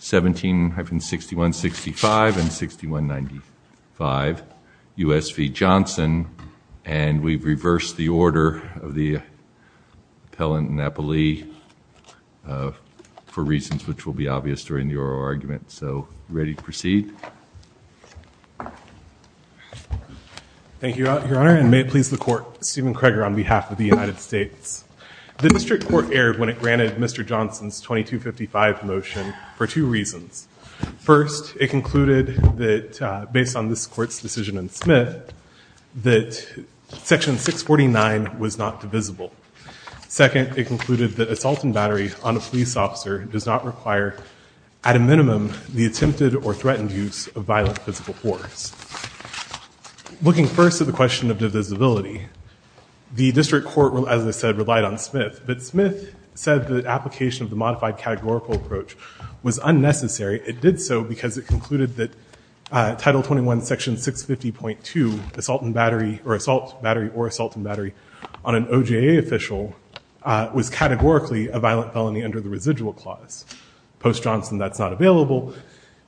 17-6165 and 6195 U.S. v. Johnson and we've reversed the order of the appellant Napoli for reasons which will be obvious during the oral argument so ready to proceed? Thank you your honor and may it please the court Stephen Kreger on behalf of the United States. The district court erred when it 2255 motion for two reasons. First it concluded that based on this court's decision in Smith that section 649 was not divisible. Second it concluded that assault and battery on a police officer does not require at a minimum the attempted or threatened use of violent physical force. Looking first at the question of divisibility the district court will as I said relied on Smith but the modification of the modified categorical approach was unnecessary. It did so because it concluded that title 21 section 650.2 assault and battery or assault battery or assault and battery on an OJA official was categorically a violent felony under the residual clause. Post Johnson that's not available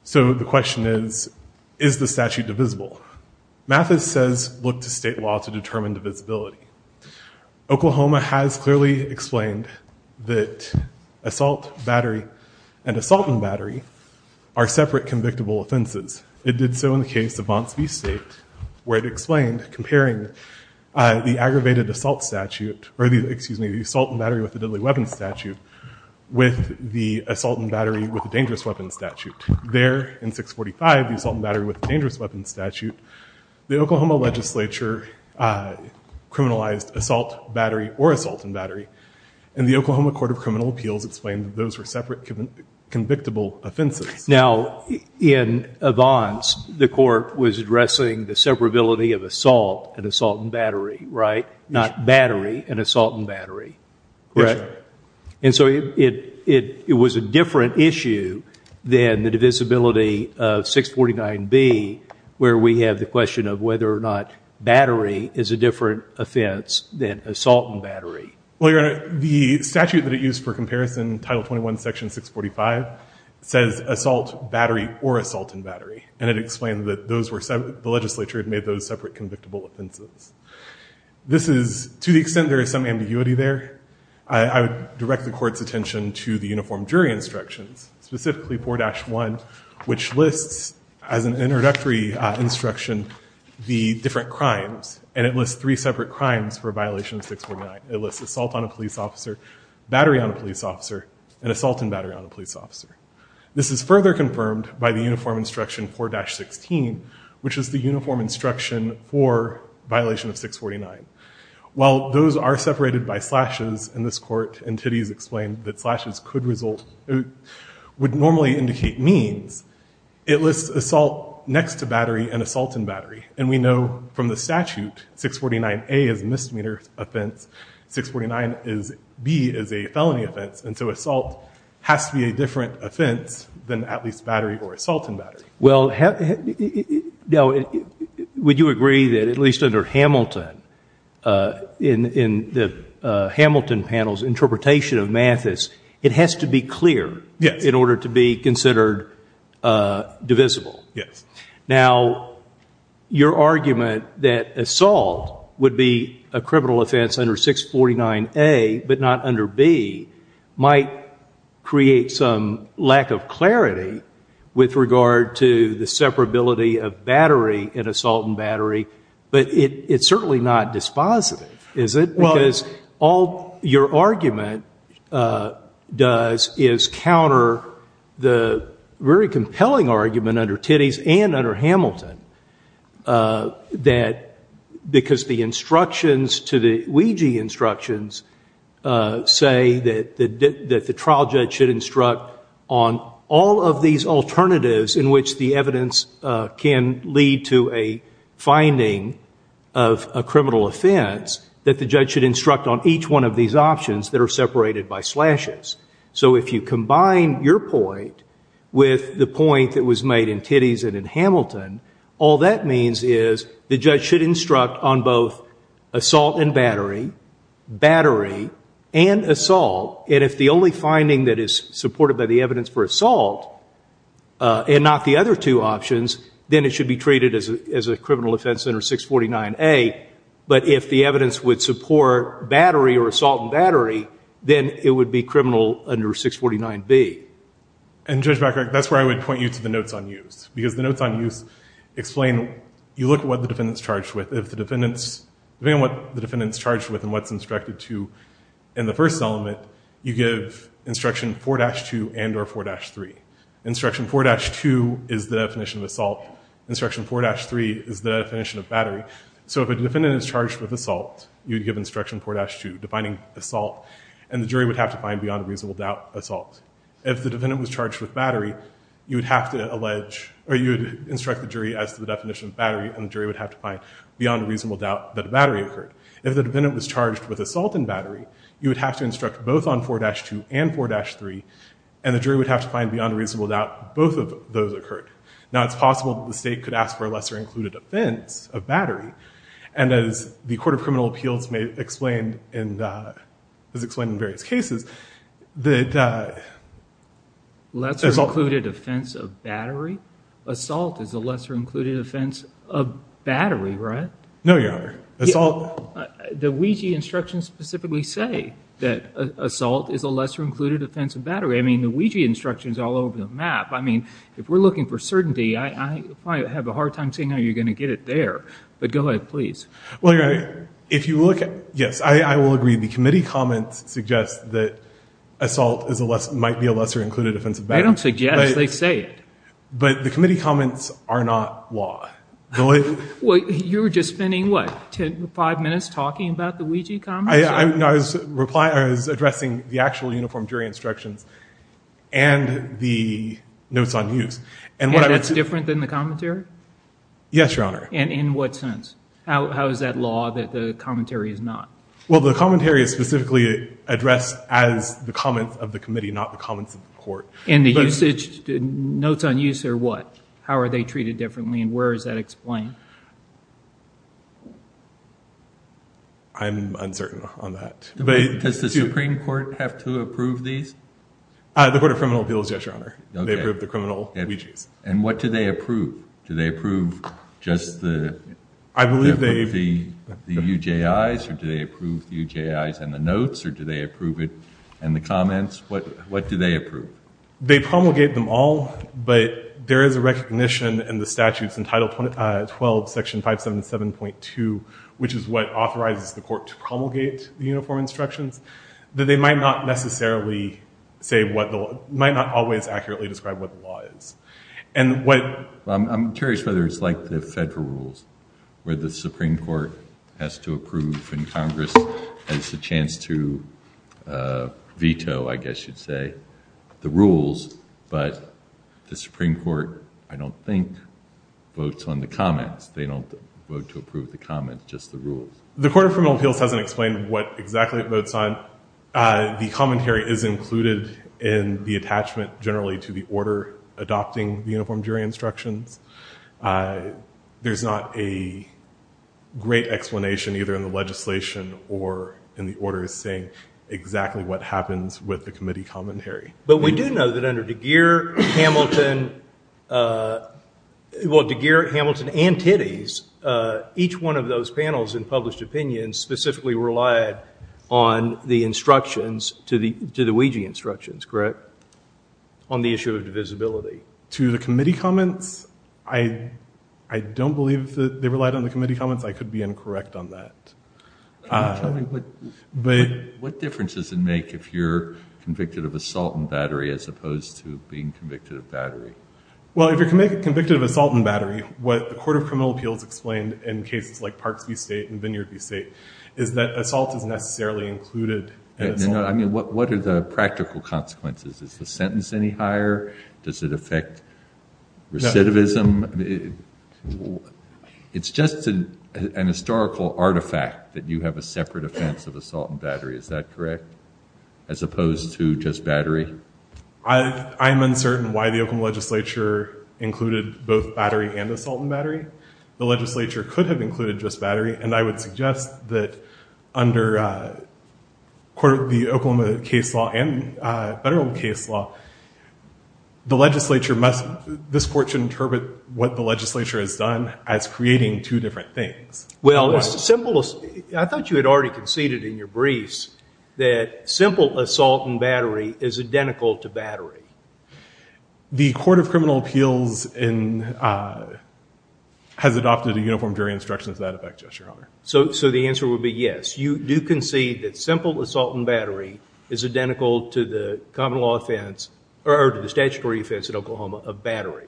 so the question is is the statute divisible? Mathis says look to state law to assault battery and assault and battery are separate convictable offenses. It did so in the case of Vontz v. State where it explained comparing the aggravated assault statute or the excuse me the assault and battery with the deadly weapons statute with the assault and battery with the dangerous weapons statute. There in 645 the assault and battery with dangerous weapons statute the Oklahoma legislature criminalized assault battery or assault and battery and the Oklahoma Court of Criminal Appeals explained that those were separate convictable offenses. Now in Vontz the court was addressing the separability of assault and assault and battery right not battery and assault and battery right and so it it it was a different issue than the divisibility of 649 B where we have the question of whether or not battery is a different offense than assault and battery. Well your honor the statute that it used for comparison title 21 section 645 says assault battery or assault and battery and it explained that those were separate the legislature had made those separate convictable offenses. This is to the extent there is some ambiguity there I would direct the court's attention to the uniform jury instructions specifically 4-1 which lists as an introductory instruction the different crimes and it lists three separate crimes for a violation of 649. It lists assault on a police officer, battery on a police officer, and assault and battery on a police officer. This is further confirmed by the uniform instruction 4-16 which is the uniform instruction for violation of 649. While those are separated by slashes in this court and Tiddy's explained that slashes could result would normally indicate means it lists assault next to battery and assault and battery and we know from the statute 649 A is misdemeanor offense 649 is B is a felony offense and so assault has to be a different offense than at least battery or assault and battery. Well would you agree that at least under Hamilton in the Hamilton panel's interpretation of Mathis it has to be clear in order to be considered divisible. Yes. Now your argument that assault would be a criminal offense under 649 A but not under B might create some lack of clarity with regard to the separability of battery in assault and battery but it's certainly not dispositive is it? Well. Because all your argument does is counter the very compelling argument under Tiddy's and under Hamilton. That because the instructions to the Ouija instructions say that the trial judge should instruct on all of these alternatives in which the evidence can lead to a finding of a criminal offense that the judge should instruct on each one of these options that are separated by slashes. So if you combine your point with the point that was made in Tiddy's and in Hamilton all that means is the judge should instruct on both assault and battery, battery and assault and if the only finding that is supported by the evidence for assault and not the other two options then it should be treated as a criminal offense under 649 A but if the evidence would support battery or assault and battery then it would be criminal offense under 649 A. And Judge Becker that's where I would point you to the notes on use because the notes on use explain you look at what the defendants charged with if the defendants, depending on what the defendants charged with and what's instructed to in the first element you give instruction 4-2 and or 4-3. Instruction 4-2 is the definition of assault. Instruction 4-3 is the definition of battery. So the defendant is charged with assault, you would give instruction 4-2 defining assault, and the jury would have to find beyond reasonable doubt assault. If the defendant was charged with battery, you would have to instruct the jury as the definition of battery and the jury would have to find beyond reasonable doubt that battery occurred. If the defendant was charged with assault and battery you would have to instruct both on 4-2 and 4-3, and the jury would have to find beyond reasonable doubt both of those occurred. Now it's possible that the state could ask for a lesser included offense of battery, and as the Court of Criminal Appeals has explained in various cases, that assault is a lesser included offense of battery, right? No, Your Honor. The Ouija instructions specifically say that assault is a lesser included offense of battery. I mean, the Ouija instructions are all over the map. I mean, if we're looking for certainty, I have a hard time saying how you're going to get it there. But go ahead, please. Well, Your Honor, if you look at – yes, I will agree. The committee comments suggest that assault might be a lesser included offense of battery. I don't suggest. They say it. But the committee comments are not law. Well, you were just spending, what, five minutes talking about the Ouija comments? I was addressing the actual uniform jury instructions and the notes on use. And that's different than the commentary? Yes, Your Honor. And in what sense? How is that law that the commentary is not? Well, the commentary is specifically addressed as the comments of the committee, not the comments of the court. And the usage, notes on use are what? How are they treated differently, and where is that explained? I'm uncertain on that. Does the Supreme Court have to approve these? The Court of Criminal Appeals, yes, Your Honor. They approve the criminal Ouijas. And what do they approve? Do they approve just the UJIs, or do they approve the UJIs and the notes, or do they approve it and the comments? What do they approve? They promulgate them all, but there is a recognition in the statutes in Title 12, Section 577.2, which is what authorizes the court to promulgate the uniform instructions, that they might not necessarily say what the law – might not always accurately describe what the law is. And what – I'm curious whether it's like the federal rules where the Supreme Court has to approve and it's a chance to veto, I guess you'd say, the rules, but the Supreme Court, I don't think, votes on the comments. They don't vote to approve the comments, just the rules. The Court of Criminal Appeals hasn't explained what exactly it votes on. The commentary is included in the attachment generally to the order adopting the uniform jury instructions. There's not a great explanation either in the legislation or in the order saying exactly what happens with the committee commentary. But we do know that under DeGear, Hamilton – well, DeGear, Hamilton, and Titties, each one of those panels in published opinions specifically relied on the instructions to the UJI instructions, correct? On the issue of divisibility. To the committee comments, I don't believe they relied on the committee comments. I could be incorrect on that. Can you tell me what difference does it make if you're convicted of assault and battery as opposed to being convicted of battery? Well, if you're convicted of assault and battery, what the Court of Criminal Appeals explained in cases like Parks v. State and Vineyard v. State is that assault is necessarily included in assault. What are the practical consequences? Is the sentence any higher? Does it affect recidivism? It's just an historical artifact that you have a separate offense of assault and battery. Is that correct? As opposed to just battery? I am uncertain why the Oklahoma legislature included both battery and assault and battery. The legislature could have included just battery, and I would suggest that under the Oklahoma case law and federal case law, this court should interpret what the legislature has done as creating two different things. Well, I thought you had already conceded in your briefs that simple assault and battery is identical to battery. The Court of Criminal Appeals has adopted a uniform jury instruction to that effect, Your Honor. So the answer would be yes. You do concede that simple assault and battery is identical to the common law offense or to the statutory offense in Oklahoma of battery.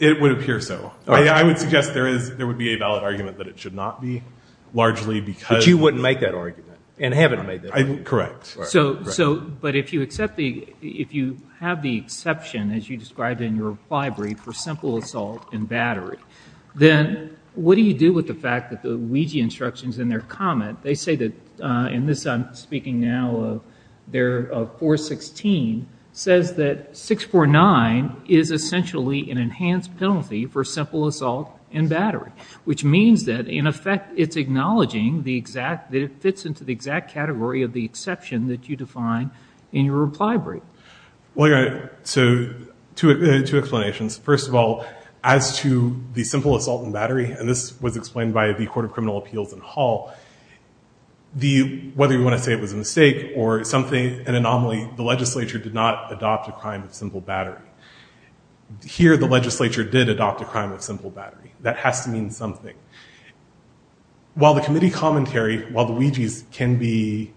It would appear so. I would suggest there would be a valid argument that it should not be largely because Correct. But if you have the exception, as you described in your brief, for simple assault and battery, then what do you do with the fact that the Ouija instructions in their comment, they say that in this I'm speaking now of 416, says that 649 is essentially an enhanced penalty for simple assault and battery, which means that in effect it's acknowledging that it fits into the exact category of the exception that you define in your reply brief. Well, Your Honor, so two explanations. First of all, as to the simple assault and battery, and this was explained by the Court of Criminal Appeals in Hall, whether you want to say it was a mistake or something, an anomaly, the legislature did not adopt a crime of simple battery. Here the legislature did adopt a crime of simple battery. That has to mean something. While the committee commentary, while the Ouijas can be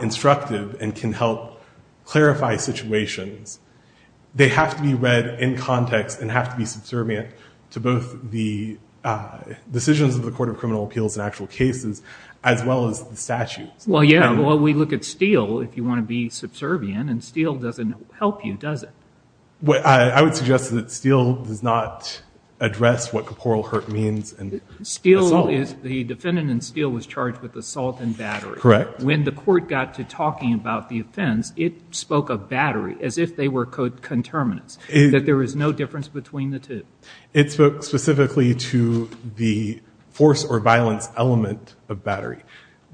instructive and can help clarify situations, they have to be read in context and have to be subservient to both the decisions of the Court of Criminal Appeals and actual cases as well as the statutes. Well, yeah. Well, we look at Steele if you want to be subservient, and Steele doesn't help you, does it? I would suggest that Steele does not address what corporal hurt means in assault. Steele is, the defendant in Steele was charged with assault and battery. Correct. When the court got to talking about the offense, it spoke of battery as if they were coterminants, that there is no difference between the two.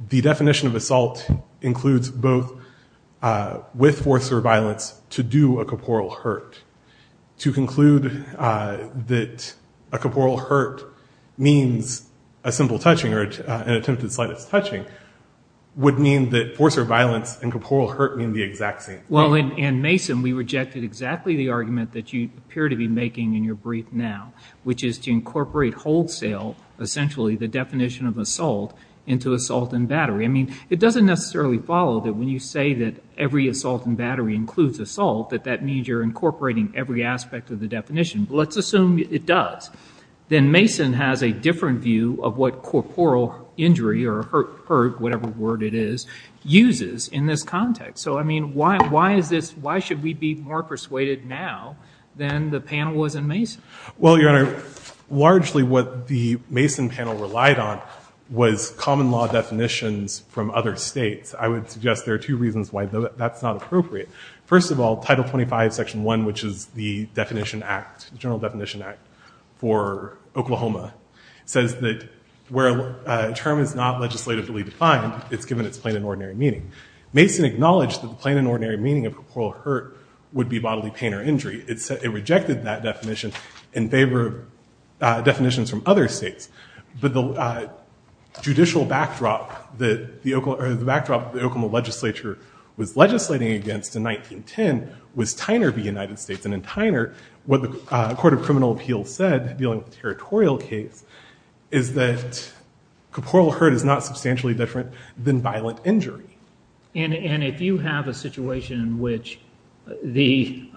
The definition of assault includes both with force or violence to do a corporal hurt. To conclude that a corporal hurt means a simple touching or an attempt at slightest touching would mean that force or violence and corporal hurt mean the exact same thing. Well, in Mason we rejected exactly the argument that you appear to be making in your brief now, which is to incorporate wholesale, essentially the definition of assault, into assault and battery. I mean, it doesn't necessarily follow that when you say that every assault and battery includes assault, that that means you're incorporating every aspect of the definition. Let's assume it does. Then Mason has a different view of what corporal injury or hurt, whatever word it is, uses in this context. So, I mean, why is this, why should we be more persuaded now than the panel was in Mason? Well, Your Honor, largely what the Mason panel relied on was common law definitions from other states. I would suggest there are two reasons why that's not appropriate. First of all, Title 25, Section 1, which is the definition act, general definition act for Oklahoma, says that where a term is not legislatively defined, it's given its plain and ordinary meaning. Mason acknowledged that the plain and ordinary meaning of corporal hurt would be bodily pain or injury. It rejected that definition in favor of definitions from other states. But the judicial backdrop that the Oklahoma legislature was legislating against in 1910 was Tyner v. United States. And in Tyner, what the Court of Criminal Appeals said, dealing with the territorial case, is that corporal hurt is not substantially different than violent injury. And if you have a situation in which the,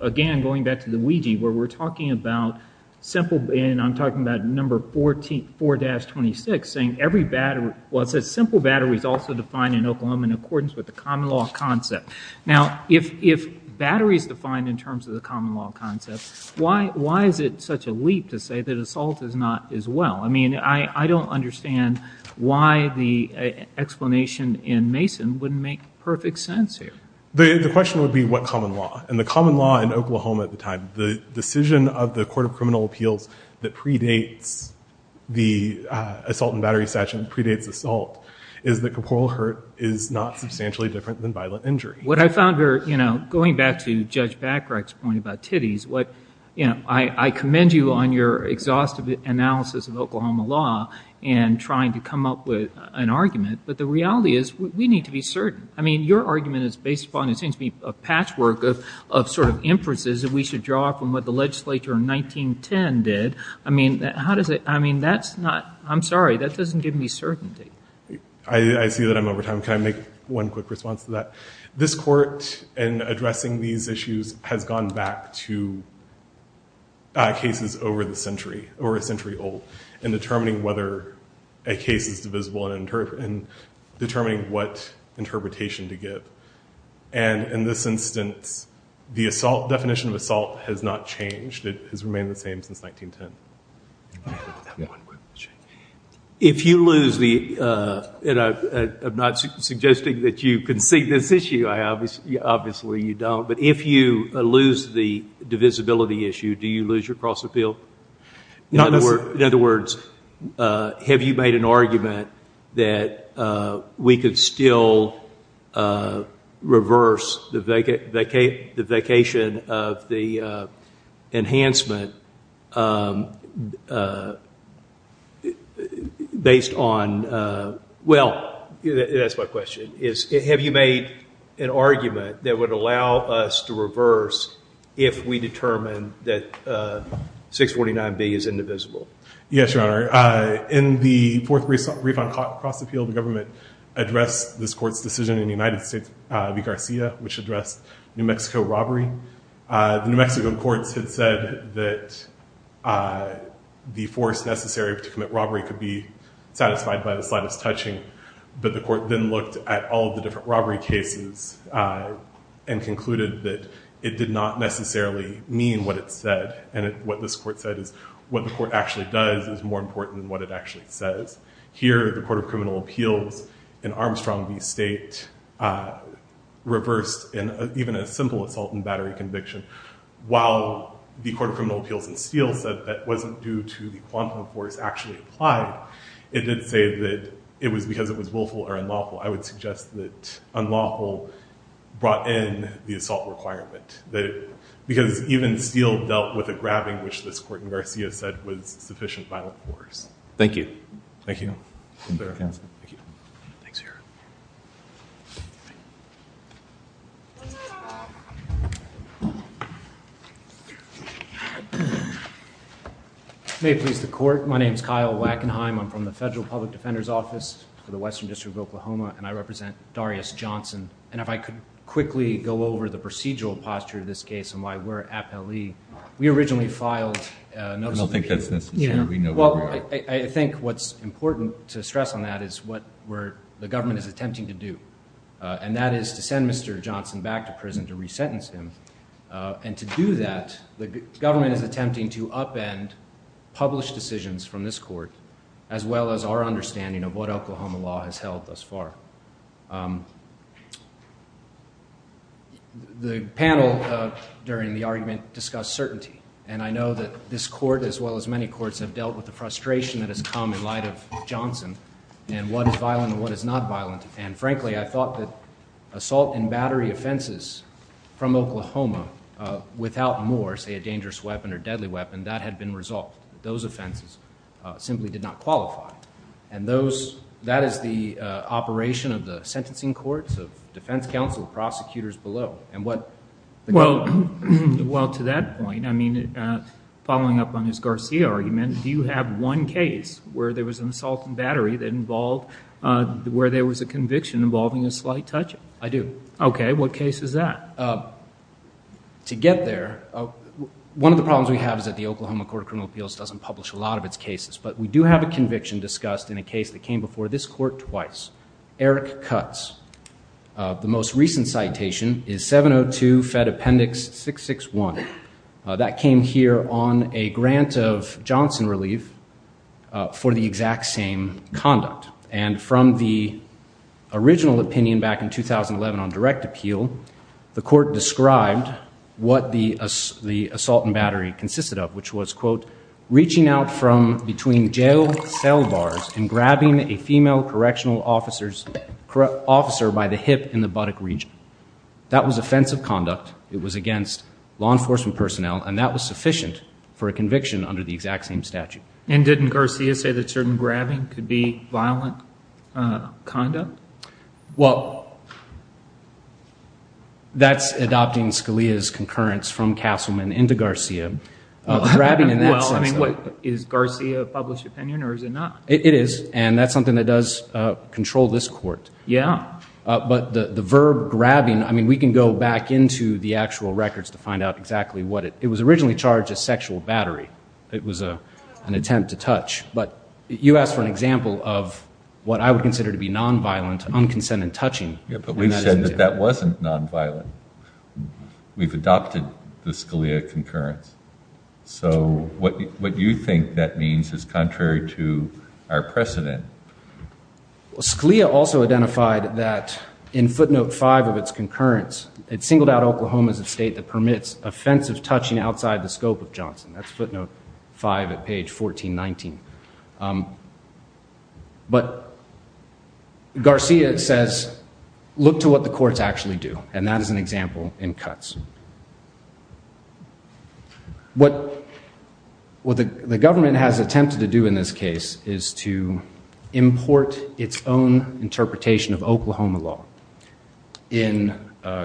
again, going back to the Ouija, where we're talking about simple, and I'm talking about number 4-26, saying every battery, well, it says simple battery is also defined in Oklahoma in accordance with the common law concept. Now, if battery is defined in terms of the common law concept, why is it such a leap to say that assault is not as well? I mean, I don't understand why the explanation in Mason wouldn't make perfect sense here. The question would be, what common law? And the common law in Oklahoma at the time, the decision of the Court of Criminal Appeals that predates the assault in battery statute, predates assault, is that corporal hurt is not substantially different than violent injury. What I found very, you know, going back to Judge Bachreich's point about titties, what, you know, I commend you on your exhaustive analysis of Oklahoma law and trying to come up with an argument, but the reality is we need to be certain. I mean, your argument is based upon, it seems to me, a patchwork of sort of inferences that we should draw from what the legislature in 1910 did. I mean, how does it, I mean, that's not, I'm sorry, that doesn't give me certainty. I see that I'm over time. Can I make one quick response to that? This court, in addressing these issues, has gone back to cases over the century, over a century old, in determining whether a case is divisible and determining what interpretation to give. And in this instance, the assault, definition of assault has not changed. It has remained the same since 1910. If you lose the, and I'm not suggesting that you concede this issue. Obviously you don't. But if you lose the divisibility issue, do you lose your cross appeal? In other words, have you made an argument that we could still reverse the vacation of the enhancement based on, well, that's my question, is have you made an argument that would allow us to reverse if we determine that 649B is indivisible? Yes, Your Honor. In the fourth refund cross appeal, the government addressed this court's decision in the United States v. Garcia, which addressed New Mexico robbery. The New Mexico courts had said that the force necessary to commit robbery could be satisfied by the slightest touching. But the court then looked at all of the different robbery cases and concluded that it did not necessarily mean what it said. And what this court said is what the court actually does is more important than what it actually says. Here, the Court of Criminal Appeals in Armstrong v. State reversed even a simple assault and battery conviction. While the Court of Criminal Appeals in Steele said that wasn't due to the quantum force actually applied, it did say that it was because it was willful or unlawful. I would suggest that unlawful brought in the assault requirement. Because even Steele dealt with a grabbing, which this court in Garcia said was sufficient violent force. Thank you. Thank you. May it please the Court, my name is Kyle Wackenheim. I'm from the Federal Public Defender's Office for the Western District of Oklahoma, and I represent Darius Johnson. And if I could quickly go over the procedural posture of this case and why we're appellee. We originally filed a notice of appeal. Well, I think what's important to stress on that is what the government is attempting to do, and that is to send Mr. Johnson back to prison to resentence him. And to do that, the government is attempting to upend published decisions from this court as well as our understanding of what Oklahoma law has held thus far. The panel during the argument discussed certainty, and I know that this court, as well as many courts, have dealt with the frustration that has come in light of Johnson and what is violent and what is not violent. And frankly, I thought that assault and battery offenses from Oklahoma without more, say, a dangerous weapon or deadly weapon, that had been resolved. Those offenses simply did not qualify. And that is the operation of the sentencing courts, of defense counsel, prosecutors below. Well, to that point, I mean, following up on his Garcia argument, do you have one case where there was an assault and battery that involved where there was a conviction involving a slight touch-up? I do. Okay. What case is that? To get there, one of the problems we have is that the Oklahoma Court of Criminal Appeals doesn't publish a lot of its cases. But we do have a conviction discussed in a case that came before this court twice, Eric Cutts. The most recent citation is 702 Fed Appendix 661. That came here on a grant of Johnson relief for the exact same conduct. And from the original opinion back in 2011 on direct appeal, the court described what the assault and battery consisted of, which was, quote, reaching out from between jail cell bars and grabbing a female correctional officer by the hip in the buttock region. That was offensive conduct. It was against law enforcement personnel, and that was sufficient for a conviction under the exact same statute. And didn't Garcia say that certain grabbing could be violent conduct? Well, that's adopting Scalia's concurrence from Castleman into Garcia. Well, I mean, is Garcia a published opinion or is it not? It is, and that's something that does control this court. Yeah. But the verb grabbing, I mean, we can go back into the actual records to find out exactly what it is. It was originally charged as sexual battery. It was an attempt to touch. But you asked for an example of what I would consider to be nonviolent, unconsent and touching. Yeah, but we've said that that wasn't nonviolent. We've adopted the Scalia concurrence. So what you think that means is contrary to our precedent. Well, Scalia also identified that in footnote 5 of its concurrence, it singled out Oklahoma as a state that permits offensive touching outside the scope of Johnson. That's footnote 5 at page 1419. But Garcia says, look to what the courts actually do, and that is an example in cuts. What the government has attempted to do in this case is to import its own interpretation of Oklahoma law in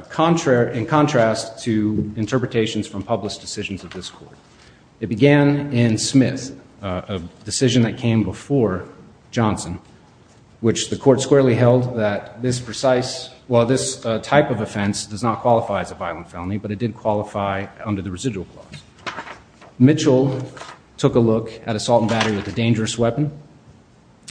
contrast to interpretations from published decisions of this court. It began in Smith, a decision that came before Johnson, which the court squarely held that this type of offense does not qualify as a violent felony, but it did qualify under the residual clause. Mitchell took a look at assault and battery with a dangerous weapon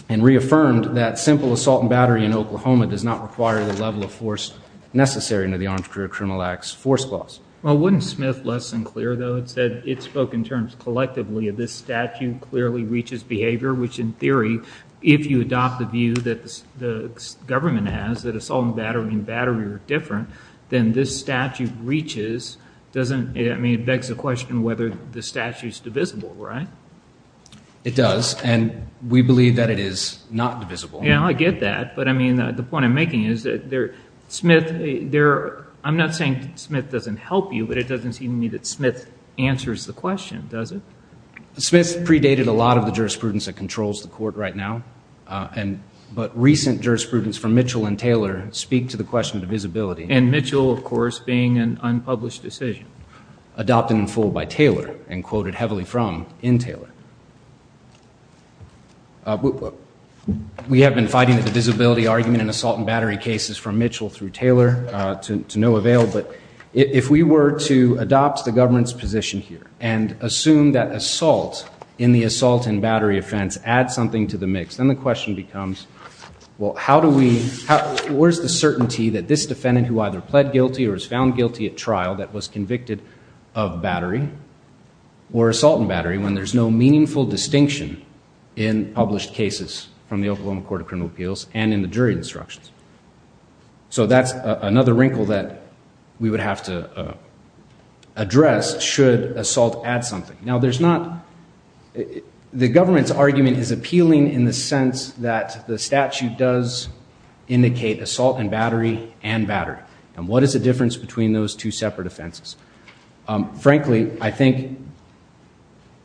and reaffirmed that simple assault and battery in Oklahoma does not require the level of force necessary under the Arms Career Criminal Act's force clause. Well, wouldn't Smith less than clear, though, it said it spoke in terms collectively of this statute clearly reaches behavior, which in theory, if you adopt the view that the government has, that assault and battery are different, then this statute reaches, it begs the question whether the statute is divisible, right? It does, and we believe that it is not divisible. Yeah, I get that, but the point I'm making is that Smith, I'm not saying Smith doesn't help you, but it doesn't seem to me that Smith answers the question, does it? Smith predated a lot of the jurisprudence that controls the court right now, but recent jurisprudence from Mitchell and Taylor speak to the question of divisibility. And Mitchell, of course, being an unpublished decision. Adopted in full by Taylor and quoted heavily from in Taylor. We have been fighting the divisibility argument in assault and battery cases from Mitchell through Taylor to no avail, but if we were to adopt the government's position here and assume that assault in the assault and battery offense adds something to the mix, then the question becomes, well, how do we, where's the certainty that this defendant who either pled guilty or is found guilty at trial that was convicted of battery or assault and battery when there's no meaningful distinction in published cases from the Oklahoma Court of Criminal Appeals and in the jury instructions? So that's another wrinkle that we would have to address should assault add something. Now, there's not, the government's argument is appealing in the sense that the statute does indicate assault and battery and battery. And what is the difference between those two separate offenses? Frankly, I think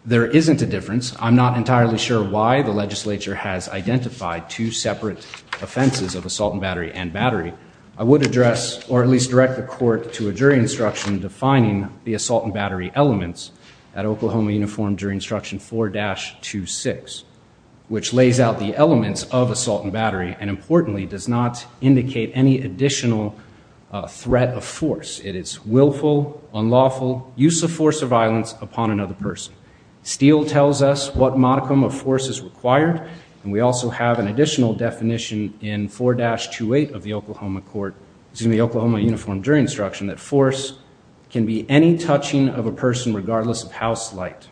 there isn't a difference. I'm not entirely sure why the legislature has identified two separate offenses of assault and battery and battery. I would address or at least direct the court to a jury instruction defining the assault and battery elements at Oklahoma Uniform Jury Instruction 4-26, which lays out the elements of assault and battery and importantly does not indicate any additional threat of force. It is willful, unlawful use of force or violence upon another person. Steele tells us what modicum of force is required and we also have an additional definition in 4-28 of the Oklahoma Court, excuse me, Oklahoma Uniform Jury Instruction that force can be any touching of a person regardless of how slight.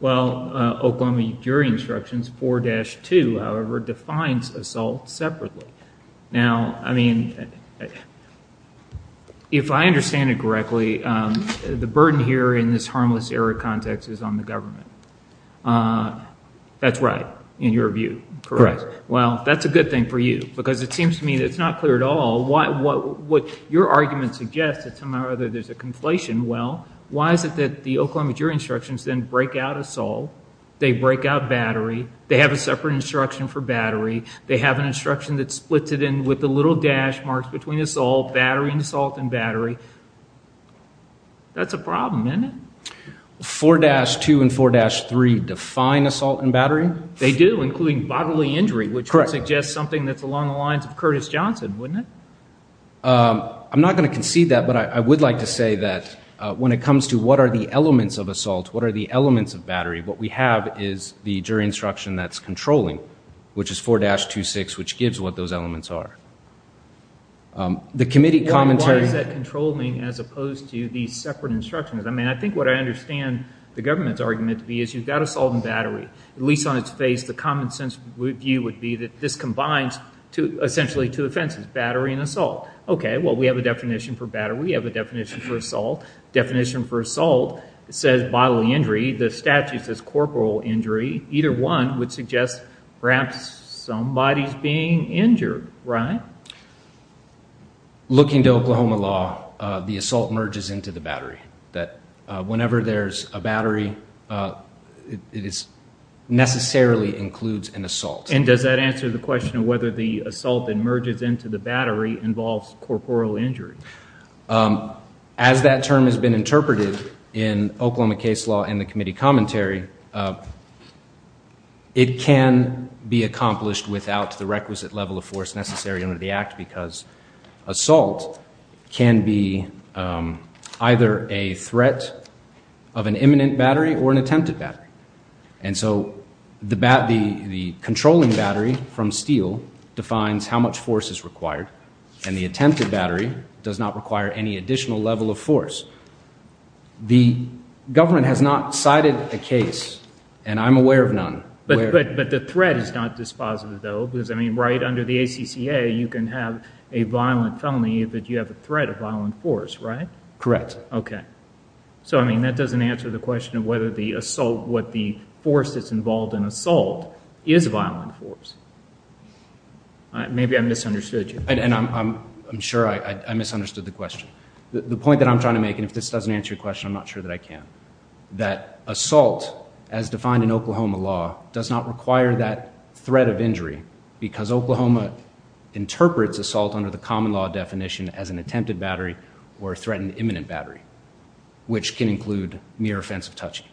Well, Oklahoma Jury Instructions 4-2, however, defines assault separately. Now, I mean, if I understand it correctly, the burden here in this harmless error context is on the government. That's right in your view, correct? Correct. Well, that's a good thing for you because it seems to me that it's not clear at all. What your argument suggests is somehow or other there's a conflation. Well, why is it that the Oklahoma Jury Instructions then break out assault, they break out battery, they have a separate instruction for battery, they have an instruction that splits it in with the little dash marks between assault, battery and assault and battery. That's a problem, isn't it? 4-2 and 4-3 define assault and battery? They do, including bodily injury, which would suggest something that's along the lines of Curtis Johnson, wouldn't it? I'm not going to concede that, but I would like to say that when it comes to what are the elements of assault, what are the elements of battery, what we have is the jury instruction that's controlling, which is 4-2-6, which gives what those elements are. The committee commentary- Why is that controlling as opposed to these separate instructions? I mean, I think what I understand the government's argument to be is you've got assault and battery. At least on its face, the common sense view would be that this combines essentially two offenses, battery and assault. Okay, well, we have a definition for battery, we have a definition for assault. It says bodily injury. The statute says corporal injury. Either one would suggest perhaps somebody's being injured, right? Looking to Oklahoma law, the assault merges into the battery. Whenever there's a battery, it necessarily includes an assault. And does that answer the question of whether the assault that merges into the battery involves corporal injury? As that term has been interpreted in Oklahoma case law in the committee commentary, it can be accomplished without the requisite level of force necessary under the Act because assault can be either a threat of an imminent battery or an attempted battery. And so the controlling battery from steel defines how much force is required, and the attempted battery does not require any additional level of force. The government has not cited a case, and I'm aware of none. But the threat is not dispositive, though, because, I mean, right under the ACCA, you can have a violent felony if you have a threat of violent force, right? Correct. Okay. So, I mean, that doesn't answer the question of whether the assault, what the force that's involved in assault is violent force. Maybe I misunderstood you. And I'm sure I misunderstood the question. The point that I'm trying to make, and if this doesn't answer your question, I'm not sure that I can, that assault, as defined in Oklahoma law, does not require that threat of injury because Oklahoma interprets assault under the common law definition as an attempted battery or a threatened imminent battery, which can include mere offensive touching.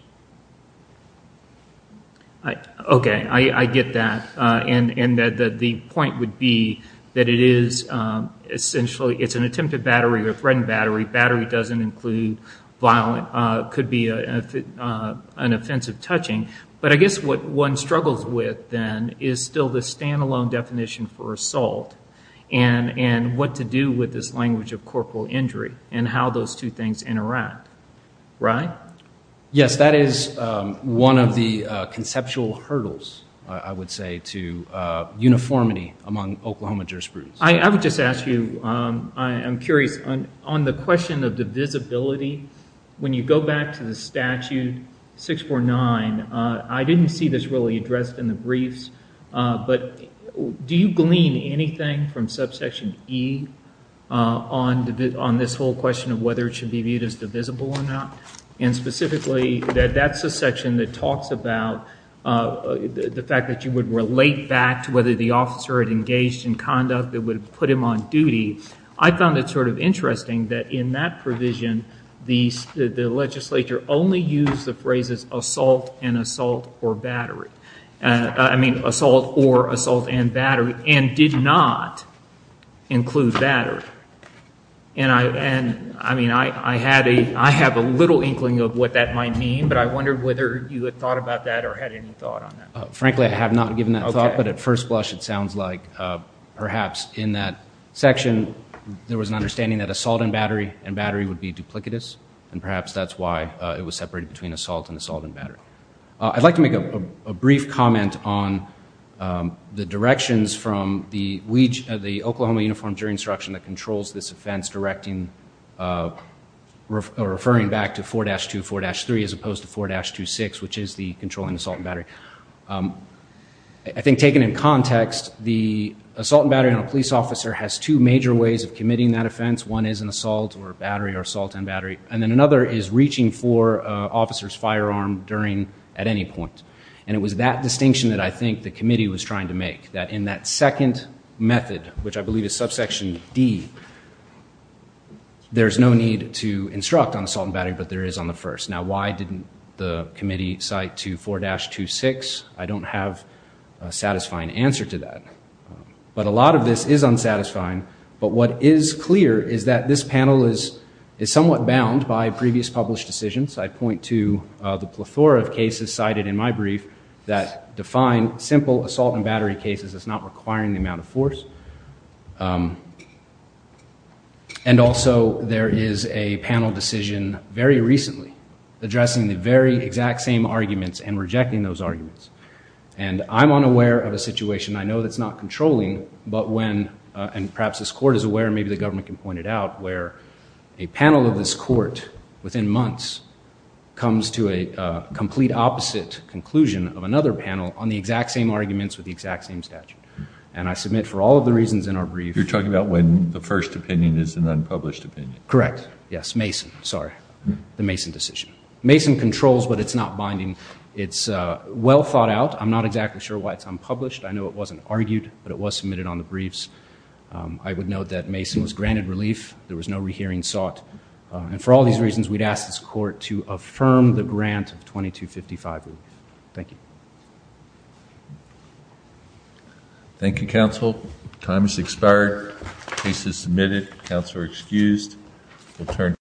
Okay. I get that. And the point would be that it is essentially, it's an attempted battery or a threatened battery. Battery doesn't include violent, could be an offensive touching. But I guess what one struggles with, then, is still the standalone definition for assault and what to do with this language of corporal injury and how those two things interact, right? Yes, that is one of the conceptual hurdles, I would say, to uniformity among Oklahoma jurisprudence. I would just ask you, I'm curious, on the question of divisibility, when you go back to the statute 649, I didn't see this really addressed in the briefs, but do you glean anything from subsection E on this whole question of whether it should be viewed as divisible or not? And specifically, that that's a section that talks about the fact that you would relate back to whether the officer had engaged in conduct that would have put him on duty. I found it sort of interesting that in that provision, the legislature only used the phrases assault and assault or battery. I mean, assault or assault and battery, and did not include battery. And I mean, I have a little inkling of what that might mean, but I wondered whether you had thought about that or had any thought on that. Frankly, I have not given that thought, but at first blush, it sounds like perhaps in that section, there was an understanding that assault and battery and battery would be duplicitous, and perhaps that's why it was separated between assault and assault and battery. I'd like to make a brief comment on the directions from the Oklahoma Uniformed Jury Instruction that controls this offense, referring back to 4-2, 4-3 as opposed to 4-2-6, which is the controlling assault and battery. I think taken in context, the assault and battery on a police officer has two major ways of committing that offense. One is an assault or battery or assault and battery. And then another is reaching for an officer's firearm at any point. And it was that distinction that I think the committee was trying to make, that in that second method, which I believe is subsection D, there is no need to instruct on assault and battery, but there is on the first. Now, why didn't the committee cite to 4-2-6? I don't have a satisfying answer to that. But a lot of this is unsatisfying. But what is clear is that this panel is somewhat bound by previous published decisions. I point to the plethora of cases cited in my brief that define simple assault and battery cases as not requiring the amount of force. And also there is a panel decision very recently addressing the very exact same arguments and rejecting those arguments. And I'm unaware of a situation. I know that's not controlling, but when, and perhaps this court is aware and maybe the government can point it out, where a panel of this court within months comes to a complete opposite conclusion of another panel on the exact same arguments with the exact same statute. And I submit for all of the reasons in our brief. You're talking about when the first opinion is an unpublished opinion. Correct. Yes, Mason. Sorry. The Mason decision. Mason controls, but it's not binding. It's well thought out. I'm not exactly sure why it's unpublished. I know it wasn't argued, but it was submitted on the briefs. I would note that Mason was granted relief. There was no rehearing sought. And for all these reasons, we'd ask this court to affirm the grant of 2255. Thank you. Thank you, counsel. Time has expired. Case is submitted. Counsel are excused.